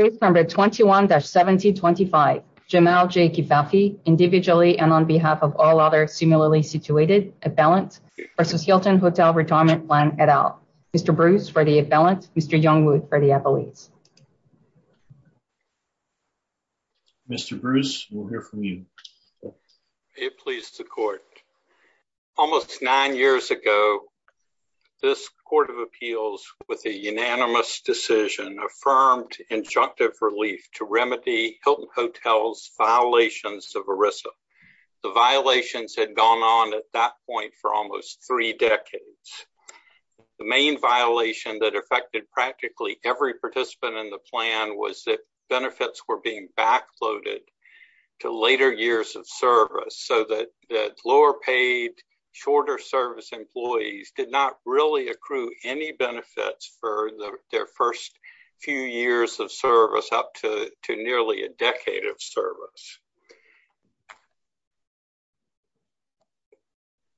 Case number 21-1725 Jamal J. Kifafi individually and on behalf of all other similarly situated appellants versus Hilton Hotel Retirement Plan et al. Mr. Bruce for the appellant, Mr. Youngwood for the appellate. Mr. Bruce we'll hear from you. May it please the court. Almost nine years ago this court of appeals with a unanimous decision affirmed injunctive relief to remedy Hilton Hotel's violations of ERISA. The violations had gone on at that point for almost three decades. The main violation that affected practically every participant in the plan was that benefits were being backloaded to later years of service so that lower paid shorter service employees did not really accrue any benefits for their first few years of service up to nearly a decade of service.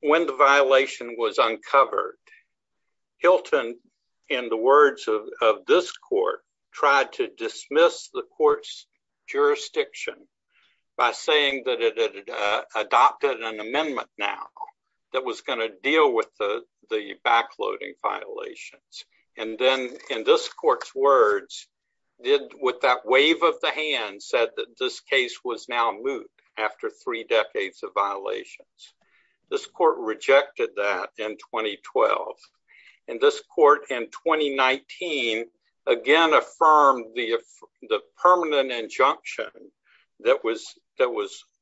When the violation was uncovered Hilton in the words of this court tried to dismiss the court's jurisdiction by saying that it had adopted an amendment now that was going to deal with the backloading violations and then in this court's words did with that wave of the hand said that this case was now moot after three decades of violations. This court rejected that in 2012 and this court in 2019 again affirmed the permanent injunction that was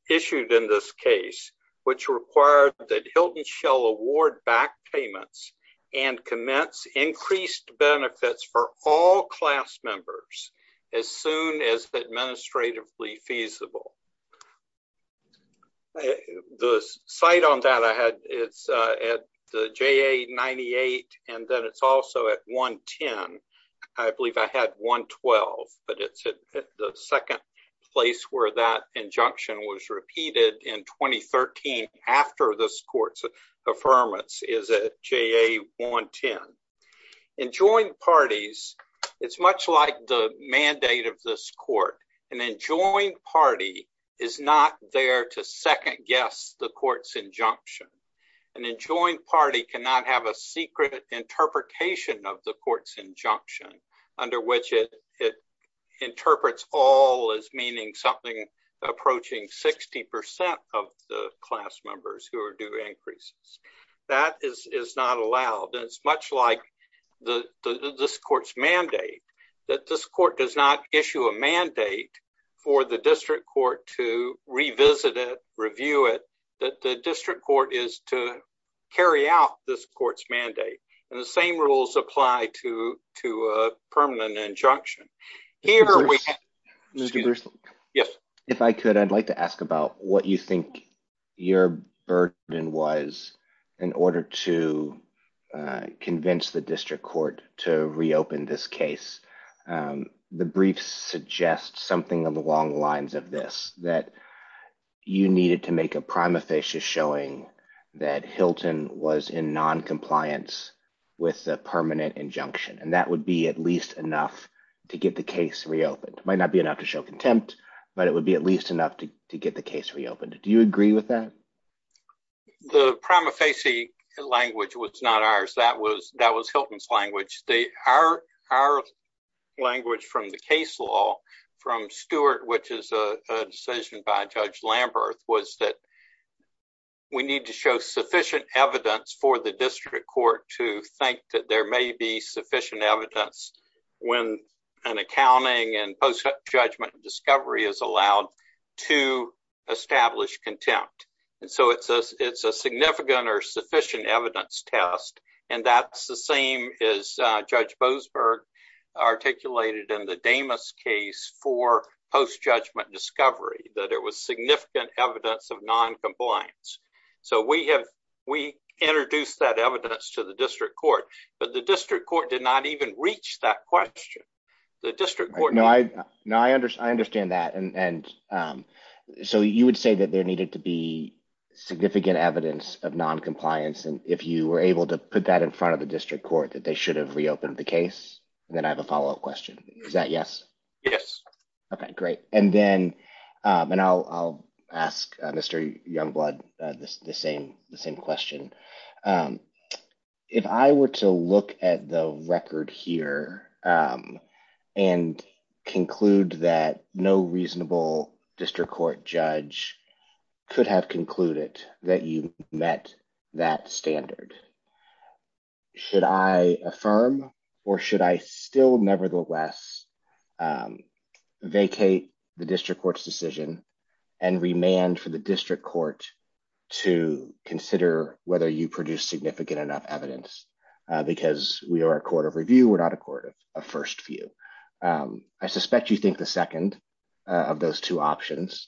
issued in this case which required that Hilton shall award back payments and commence increased benefits for all class members as soon as administratively feasible. The site on that I had it's at the JA 98 and then it's also at 110. I believe I had 112 but it's at the second place where that injunction was repeated in 2013 after this court's affirmance is at JA 110. In joint parties it's much like the mandate of this court. An enjoined party is not there to second guess the court's injunction. An enjoined party cannot have a is meaning something approaching 60 percent of the class members who are due increases. That is not allowed and it's much like this court's mandate that this court does not issue a mandate for the district court to revisit it, review it, that the district court is to carry out this court's mandate and the same rules apply to a permanent injunction. Mr. Bruce, if I could I'd like to ask about what you think your burden was in order to convince the district court to reopen this case. The briefs suggest something along the lines of this that you needed to make a prima facie showing that Hilton was in non-compliance with the permanent injunction and that would be at least enough to get the case reopened. It might not be enough to show contempt but it would be at least enough to get the case reopened. Do you agree with that? The prima facie language was not ours. That was that was Hilton's language. Our language from the case law from Stewart which is a decision by Judge Lamberth was that we need to show sufficient evidence for the district court to think that there may be sufficient evidence when an accounting and post-judgment discovery is allowed to establish contempt. It's a significant or sufficient evidence test and that's the same as Judge Boasberg articulated in the Damas case for post-judgment discovery that it was significant evidence of non-compliance. We introduced that evidence to the district court but the district court did not even reach that question. I understand that and so you would say that there needed to be significant evidence of non-compliance and if you were able to put that in front of the district court that they should have reopened the case and then I have a follow-up question. Is that yes? Yes. Okay great and then I'll ask Mr. Youngblood the same question. If I were to look at the record here and conclude that no reasonable district court judge could have concluded that you met that standard should I affirm or should I still nevertheless vacate the district court's decision and remand for the district court to consider whether you produce significant enough evidence because we are a court of review we're not a court of first view. I suspect you think the second of those two options.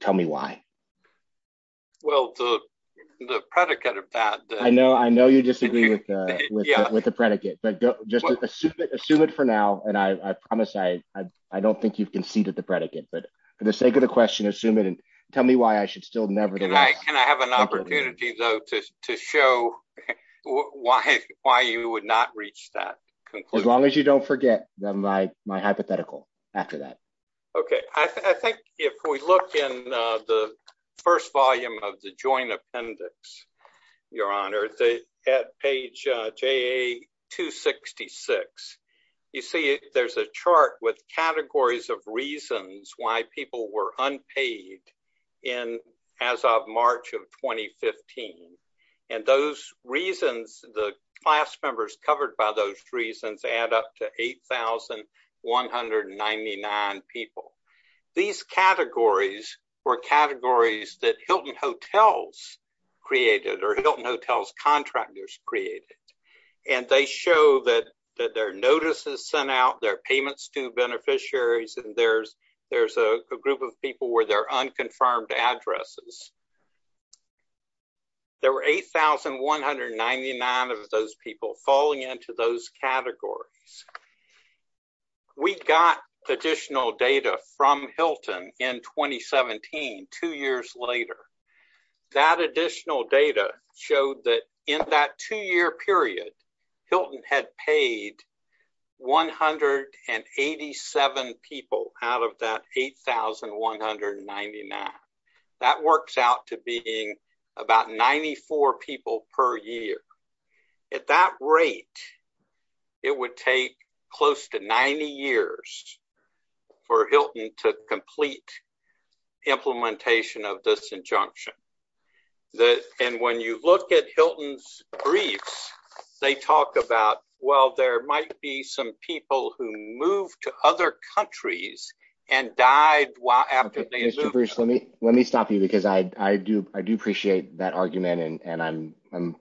Tell me why. Well the predicate of that. I know you disagree with the predicate but just assume it for now and I promise I don't think you've conceded the predicate but for the sake of the question assume it and tell me why I should still never. Can I have an opportunity though to show why you would not reach that conclusion? As long as you don't forget my hypothetical after that. Okay I think if we look in the first volume of the joint appendix your honor at page JA-266 you see there's a chart with categories of reasons why people were unpaid in as of March of 2015 and those reasons the class members covered by those reasons add up to 8,199 people. These categories were categories that Hilton Hotels created or Hilton Hotels contractors created and they show that that their notices sent out their payments to beneficiaries and there's a group of people where their unconfirmed addresses. There were 8,199 of those people falling into those categories. We got additional data from Hilton in 2017 two years later. That additional data showed that in that two-year period Hilton had paid 187 people out of that 8,199. That works out to being about 94 people per year. At that rate it would take close to 90 years for Hilton to complete implementation of this brief. They talk about well there might be some people who moved to other countries and died while after they let me stop you because I do appreciate that argument and I'm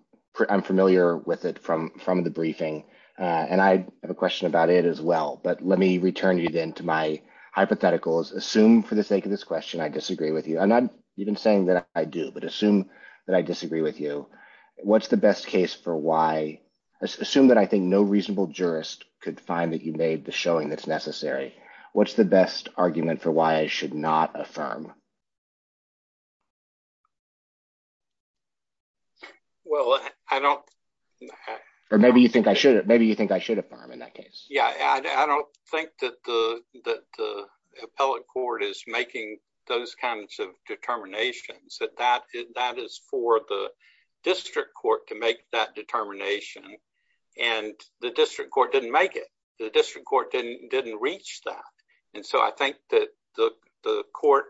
familiar with it from the briefing and I have a question about it as well but let me return you then to my hypotheticals. Assume for the sake of this question I disagree with you. I'm not even that I do but assume that I disagree with you. Assume that I think no reasonable jurist could find that you made the showing that's necessary. What's the best argument for why I should not affirm? Maybe you think I should affirm in that case. I don't think that the appellate court is those kinds of determinations. That is for the district court to make that determination and the district court didn't make it. The district court didn't reach that and so I think that the court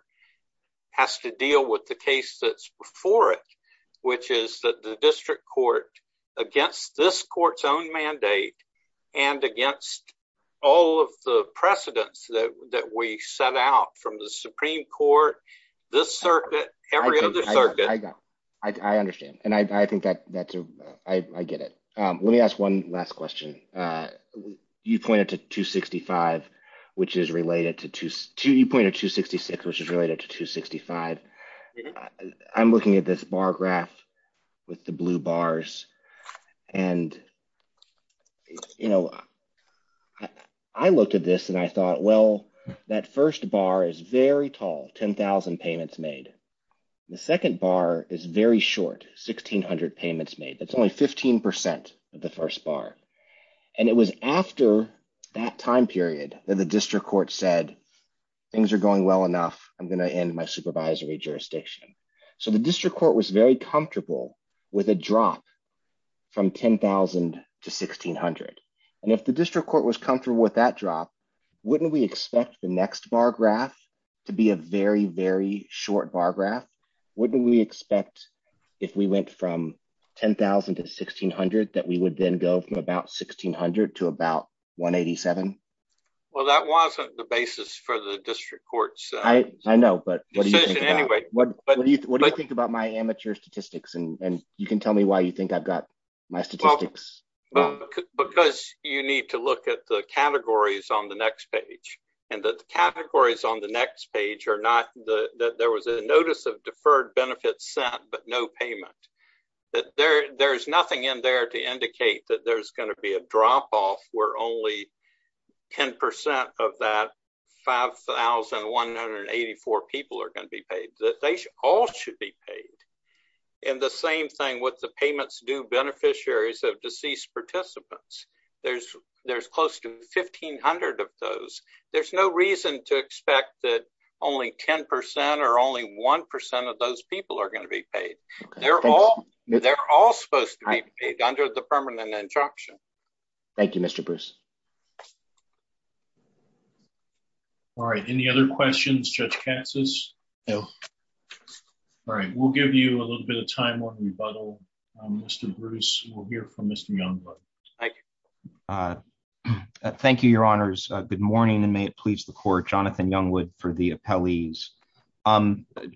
has to deal with the case that's before it which is that the district court against this Supreme Court, this circuit, every other circuit. I understand and I think that I get it. Let me ask one last question. You pointed to 265 which is related to 266 which is related to 265. I'm looking at this bar graph with the blue bars and I looked at this and I thought well that first bar is very tall 10,000 payments made. The second bar is very short 1,600 payments made. That's only 15 percent of the first bar and it was after that time period that the district court said things are going well enough I'm going to end my supervisory jurisdiction. So the district court was very comfortable with a drop from 10,000 to 1,600 and if the district court was comfortable with that drop wouldn't we expect the next bar graph to be a very very short bar graph? Wouldn't we expect if we went from 10,000 to 1,600 that we would then go from about 1,600 to about 187? Well that wasn't the basis for the district court's decision anyway. What do you think about my amateur statistics and you can tell me why you think I've got my statistics? Because you need to look at the categories on the next page and the categories on the next page are not the that there was a notice of deferred benefits sent but no payment. That there there's nothing in there to indicate that there's going to be a drop-off where only 10 percent of that 5,184 people are going to be paid. That they all should be paid and the same thing with the payments due beneficiaries of deceased participants. There's there's close to 1,500 of those. There's no reason to expect that only 10 percent or only one percent of those people are going to be paid. They're all they're all supposed to be paid under the permanent injunction. Thank you Mr. Bruce. All right any other questions Judge Katsas? No. All right we'll give you a little bit of time on rebuttal. Mr. Bruce we'll hear from Mr. Youngwood. Thank you your honors. Good morning and may it please the court. Jonathan Youngwood for the appellees.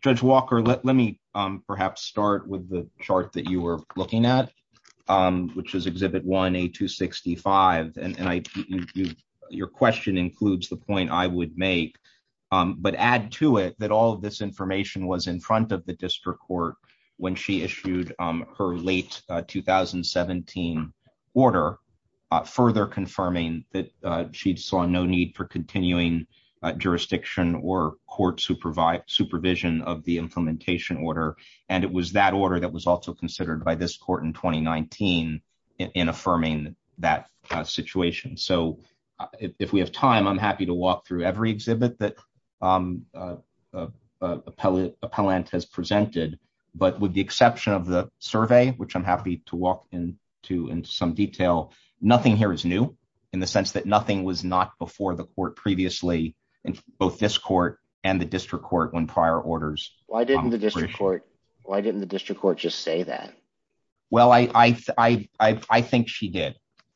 Judge Walker let let me perhaps start with the chart that you were looking at which is exhibit 1A265 and I you your question includes the point I would make but add to it that all this information was in front of the district court when she issued her late 2017 order further confirming that she saw no need for continuing jurisdiction or court supervision of the implementation order. And it was that order that was also considered by this court in 2019 in affirming that situation. So if we have time I'm happy to walk through every exhibit that appellant has presented but with the exception of the survey which I'm happy to walk in to in some detail nothing here is new in the sense that nothing was not before the court previously in both this court and the district court when prior orders. Why didn't the district court why didn't the district court just say that? Well I think she did.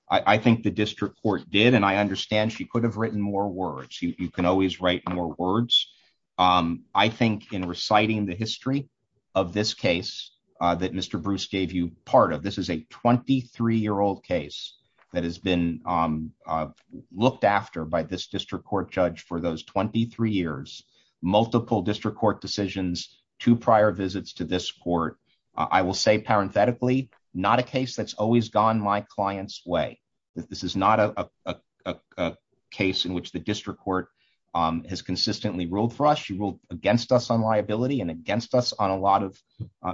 I think the district court did and I understand she could have written more words. You can always write more words. I think in reciting the history of this case that Mr. Bruce gave you part of this is a 23 year old case that has been looked after by this district court judge for those 23 years. Multiple district court decisions, two prior visits to this court. I will say parenthetically not a case that's always gone my client's way. This is not a case in which the district court has consistently ruled for us. She ruled against us on liability and against us on a lot of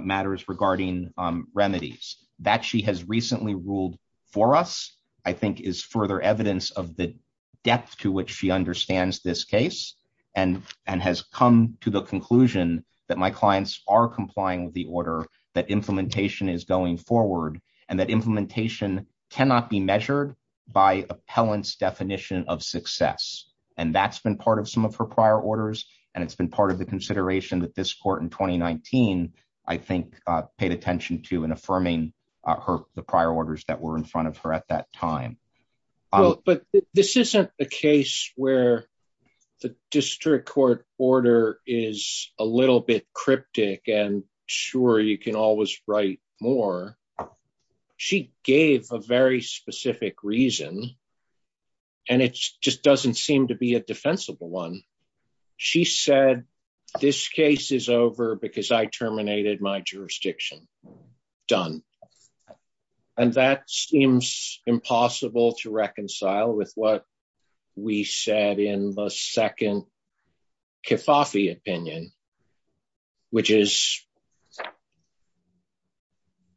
matters regarding remedies. That she has recently ruled for us I think is further evidence of the depth to which she understands this case and has come to the conclusion that my clients are complying with the order that implementation cannot be measured by appellants definition of success and that's been part of some of her prior orders and it's been part of the consideration that this court in 2019 I think paid attention to in affirming her the prior orders that were in front of her at that time. But this isn't a case where the district court order is a little bit cryptic and sure you can always write more. She gave a very specific reason and it just doesn't seem to be a defensible one. She said this case is over because I terminated my jurisdiction. Done. And that seems impossible to reconcile with what we said in the second Kifafi opinion which is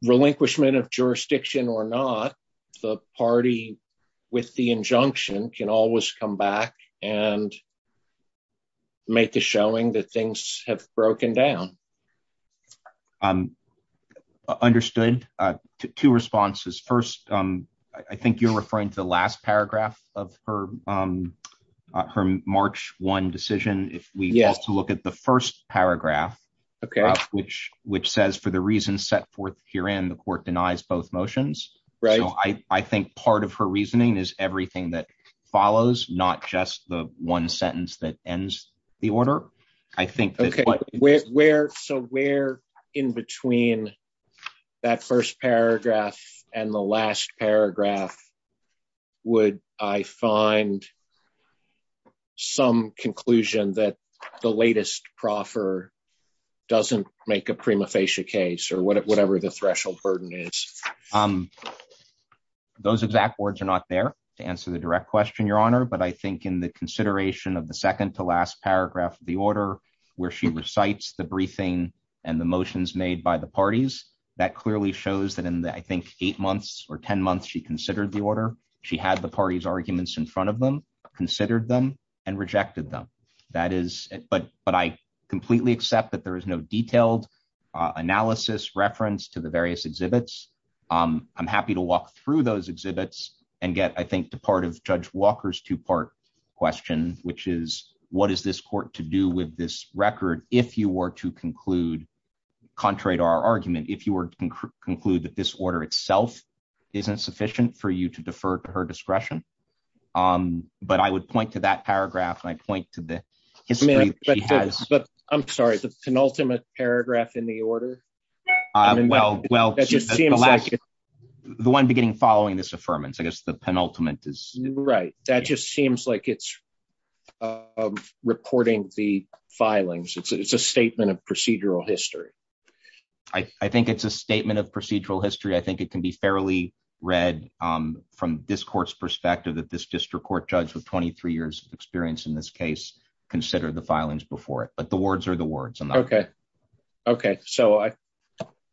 relinquishment of jurisdiction or not the party with the injunction can always come back and make the showing that things have broken down. Understood. Two responses. First I think you're referring to the last paragraph of her March 1 decision. If we have to look at the first paragraph which says for the reasons set forth herein the court denies both motions. So I think part of her reasoning is everything that follows not just the one sentence that ends the order. I think where so where in between that first paragraph and the last paragraph would I find some conclusion that the latest proffer doesn't make a prima facie case or whatever the threshold burden is. Those exact words are not there to answer the direct question your honor but I think in the consideration of the second to last paragraph of the order where she recites the briefing and the motions made by the parties that clearly shows that in I think eight months or ten months she considered the order. She had the party's arguments in front of them, considered them, and rejected them. That is but but I completely accept that there is no detailed analysis reference to the various exhibits. I'm happy to walk through those exhibits and get I question which is what is this court to do with this record if you were to conclude contrary to our argument if you were to conclude that this order itself isn't sufficient for you to defer to her discretion. But I would point to that paragraph and I point to the history. But I'm sorry the penultimate paragraph in the order. Well well that just seems like the one beginning following this affirmance. I guess the penultimate is right. That just seems like it's reporting the filings. It's a statement of procedural history. I think it's a statement of procedural history. I think it can be fairly read from this court's perspective that this district court judge with 23 years experience in this case considered the filings before it. But the words are the words. Okay okay so I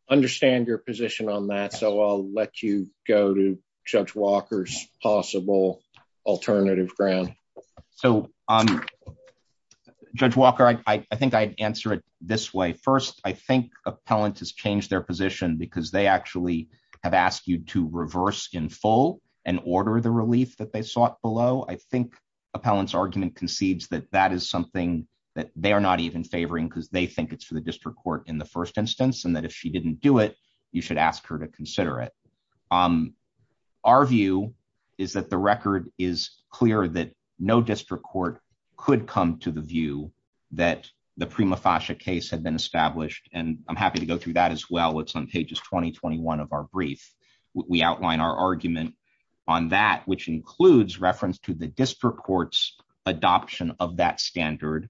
understand your position on that so I'll let you go to Walker's possible alternative ground. So Judge Walker I think I'd answer it this way. First I think appellant has changed their position because they actually have asked you to reverse in full and order the relief that they sought below. I think appellant's argument concedes that that is something that they are not even favoring because they think it's for the district court in the first instance and that if she didn't do it you should ask her to consider it. Our view is that the record is clear that no district court could come to the view that the prima facie case had been established and I'm happy to go through that as well. It's on pages 20-21 of our brief. We outline our argument on that which includes reference to the district court's adoption of that standard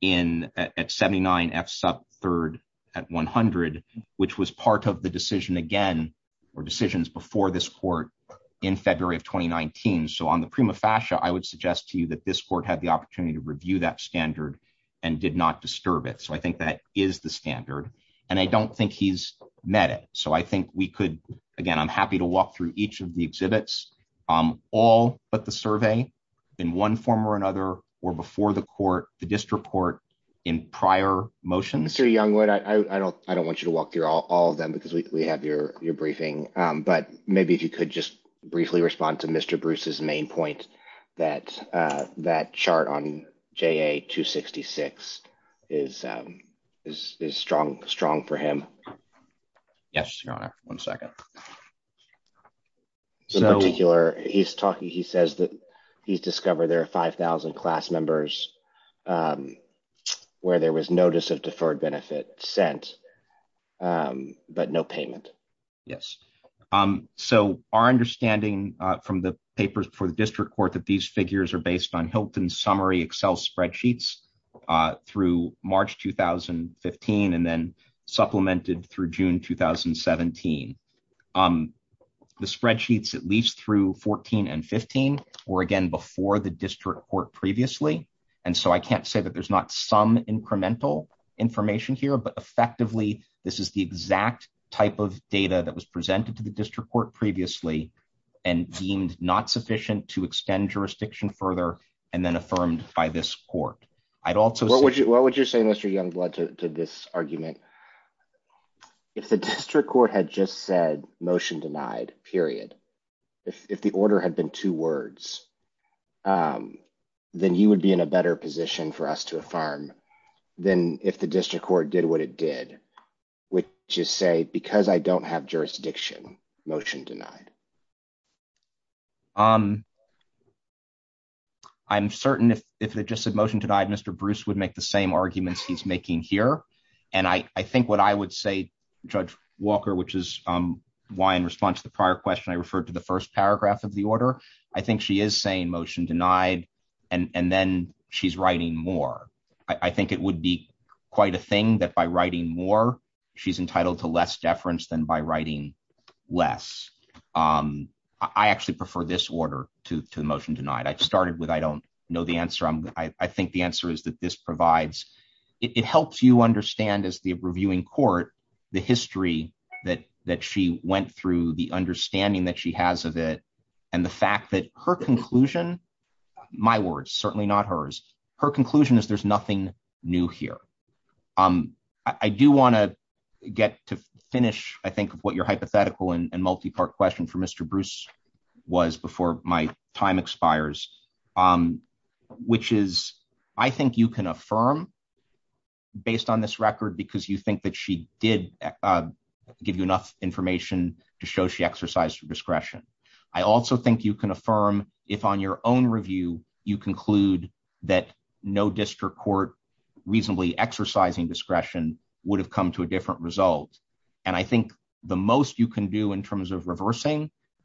in at 79 F sub 3rd at 100 which was part of the decision again or decisions before this court in February of 2019. So on the prima facie I would suggest to you that this court had the opportunity to review that standard and did not disturb it. So I think that is the standard and I don't think he's met it. So I think we could again I'm happy to walk through each of the exhibits all but the survey in one form or another or before the court the district court in prior motions. Mr. Youngwood I don't I don't want you to walk through all of them because we have your briefing but maybe if you could just briefly respond to Mr. Bruce's main point that that chart on JA 266 is strong for him. Yes your honor one second. So in particular he's talking he says that he's discovered there are 5,000 class members where there was notice of deferred benefit sent but no payment. Yes so our understanding from the papers before the district court that these figures are based on Hilton's summary excel spreadsheets through March 2015 and then supplemented through June 2017. The spreadsheets at least through 14 and 15 or again before the district court previously and so I can't say that there's not some incremental information here but effectively this is the exact type of data that was presented to the district court previously and deemed not sufficient to extend jurisdiction further and then affirmed by this court. I'd also what would you what would you say Mr. Youngwood to this argument if the district court had just said motion denied period if the order had been two words then you would be in a better position for us to affirm than if the district court did what it did which is say because I don't have jurisdiction motion denied. I'm certain if it just said motion denied Mr. Bruce would make the same arguments he's making here and I think what I would say Judge Walker which is why in response to the prior question I referred to the first paragraph of the order I think she is saying motion denied and and then she's writing more. I think it would be quite a thing that by writing more she's entitled to less deference than by writing less. I actually prefer this order to the motion denied. I started with I don't know the answer I'm I think the answer is that this provides it helps you understand as the reviewing court the history that that she went through the understanding that she has of it and the fact that her conclusion my words certainly not hers her conclusion is there's nothing new here. I do want to get to finish I think of what your hypothetical and multi-part question for Mr. Bruce was before my time expires which is I think you can affirm based on this record because you think that she did give you enough information to show she exercised her discretion. I also think you can affirm if on your own review you conclude that no district court reasonably exercising discretion would have come to a different result and I think the most you can do in terms of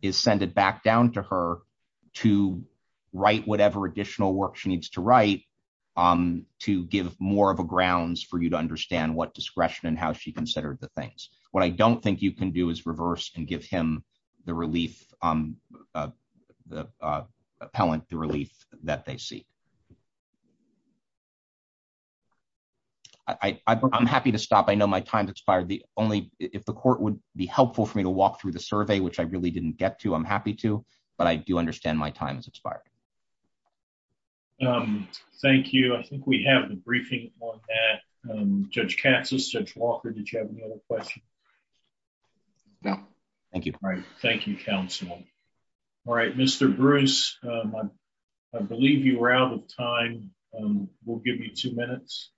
is send it back down to her to write whatever additional work she needs to write to give more of a grounds for you to understand what discretion and how she considered the things. What I don't think you can do is reverse and give him the relief the appellant the relief that they see. I'm happy to stop I know my time's expired the only if the court would be helpful for me to get to I'm happy to but I do understand my time has expired. Thank you I think we have the briefing on that Judge Katsas, Judge Walker did you have any other questions? No thank you. All right thank you counsel. All right Mr. Bruce I believe you were out of time we'll give you two minutes.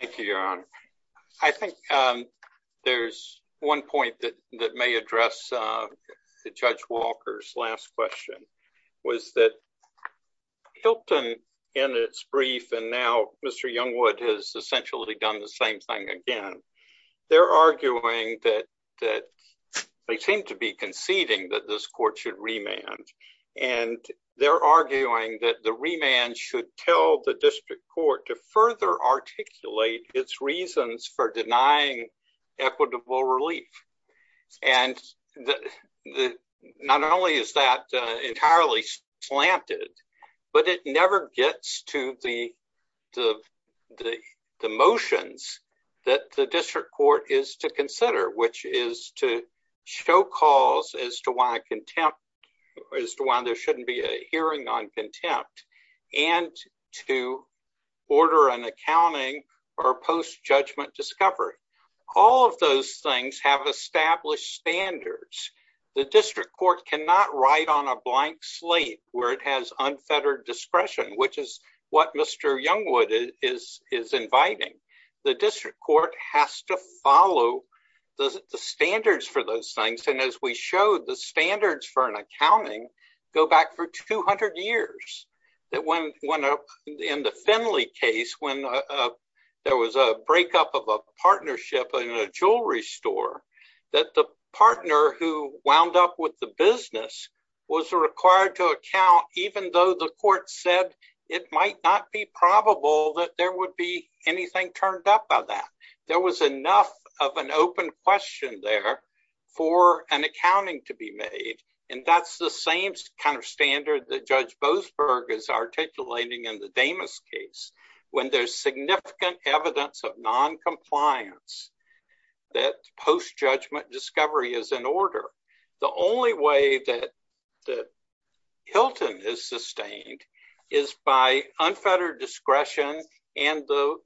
Thank you your honor I think there's one point that that may address the Judge Walker's last question was that Hilton in its brief and now Mr. Youngwood has essentially done the same thing again they're arguing that that they seem to be conceding that this court should remand and they're arguing that the remand should tell the district court to further articulate its reasons for denying equitable relief and the the not only is that entirely slanted but it never gets to the the the the motions that the district court is to consider which is to show cause as to contempt as to why there shouldn't be a hearing on contempt and to order an accounting or post judgment discovery all of those things have established standards the district court cannot write on a blank slate where it has unfettered discretion which is what Mr. Youngwood is is inviting the district court has to follow the standards for those things and as we showed the standards for an accounting go back for 200 years that when when in the Finley case when there was a breakup of a partnership in a jewelry store that the partner who wound up with the business was required to account even though the court said it might not be probable that there would be anything turned up by that there was enough of an open question there for an accounting to be made and that's the same kind of standard that Judge Boasberg is articulating in the Damas case when there's significant evidence of non-compliance that post judgment discovery is in order the only way that that Hilton is sustained is by unfettered discretion and the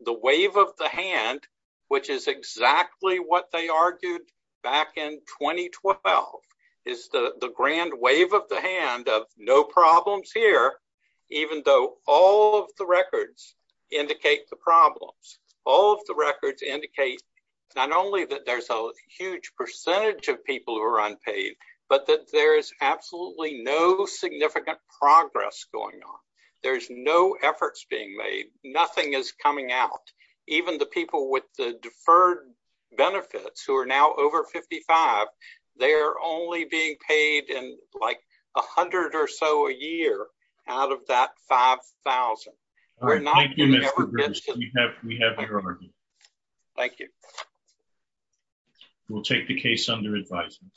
is the the grand wave of the hand of no problems here even though all of the records indicate the problems all of the records indicate not only that there's a huge percentage of people who are unpaid but that there is absolutely no significant progress going on there's no efforts being made nothing is coming out even the people with the deferred benefits who are now over 55 they are only being paid in like a hundred or so a year out of that five thousand thank you we'll take the case under advisement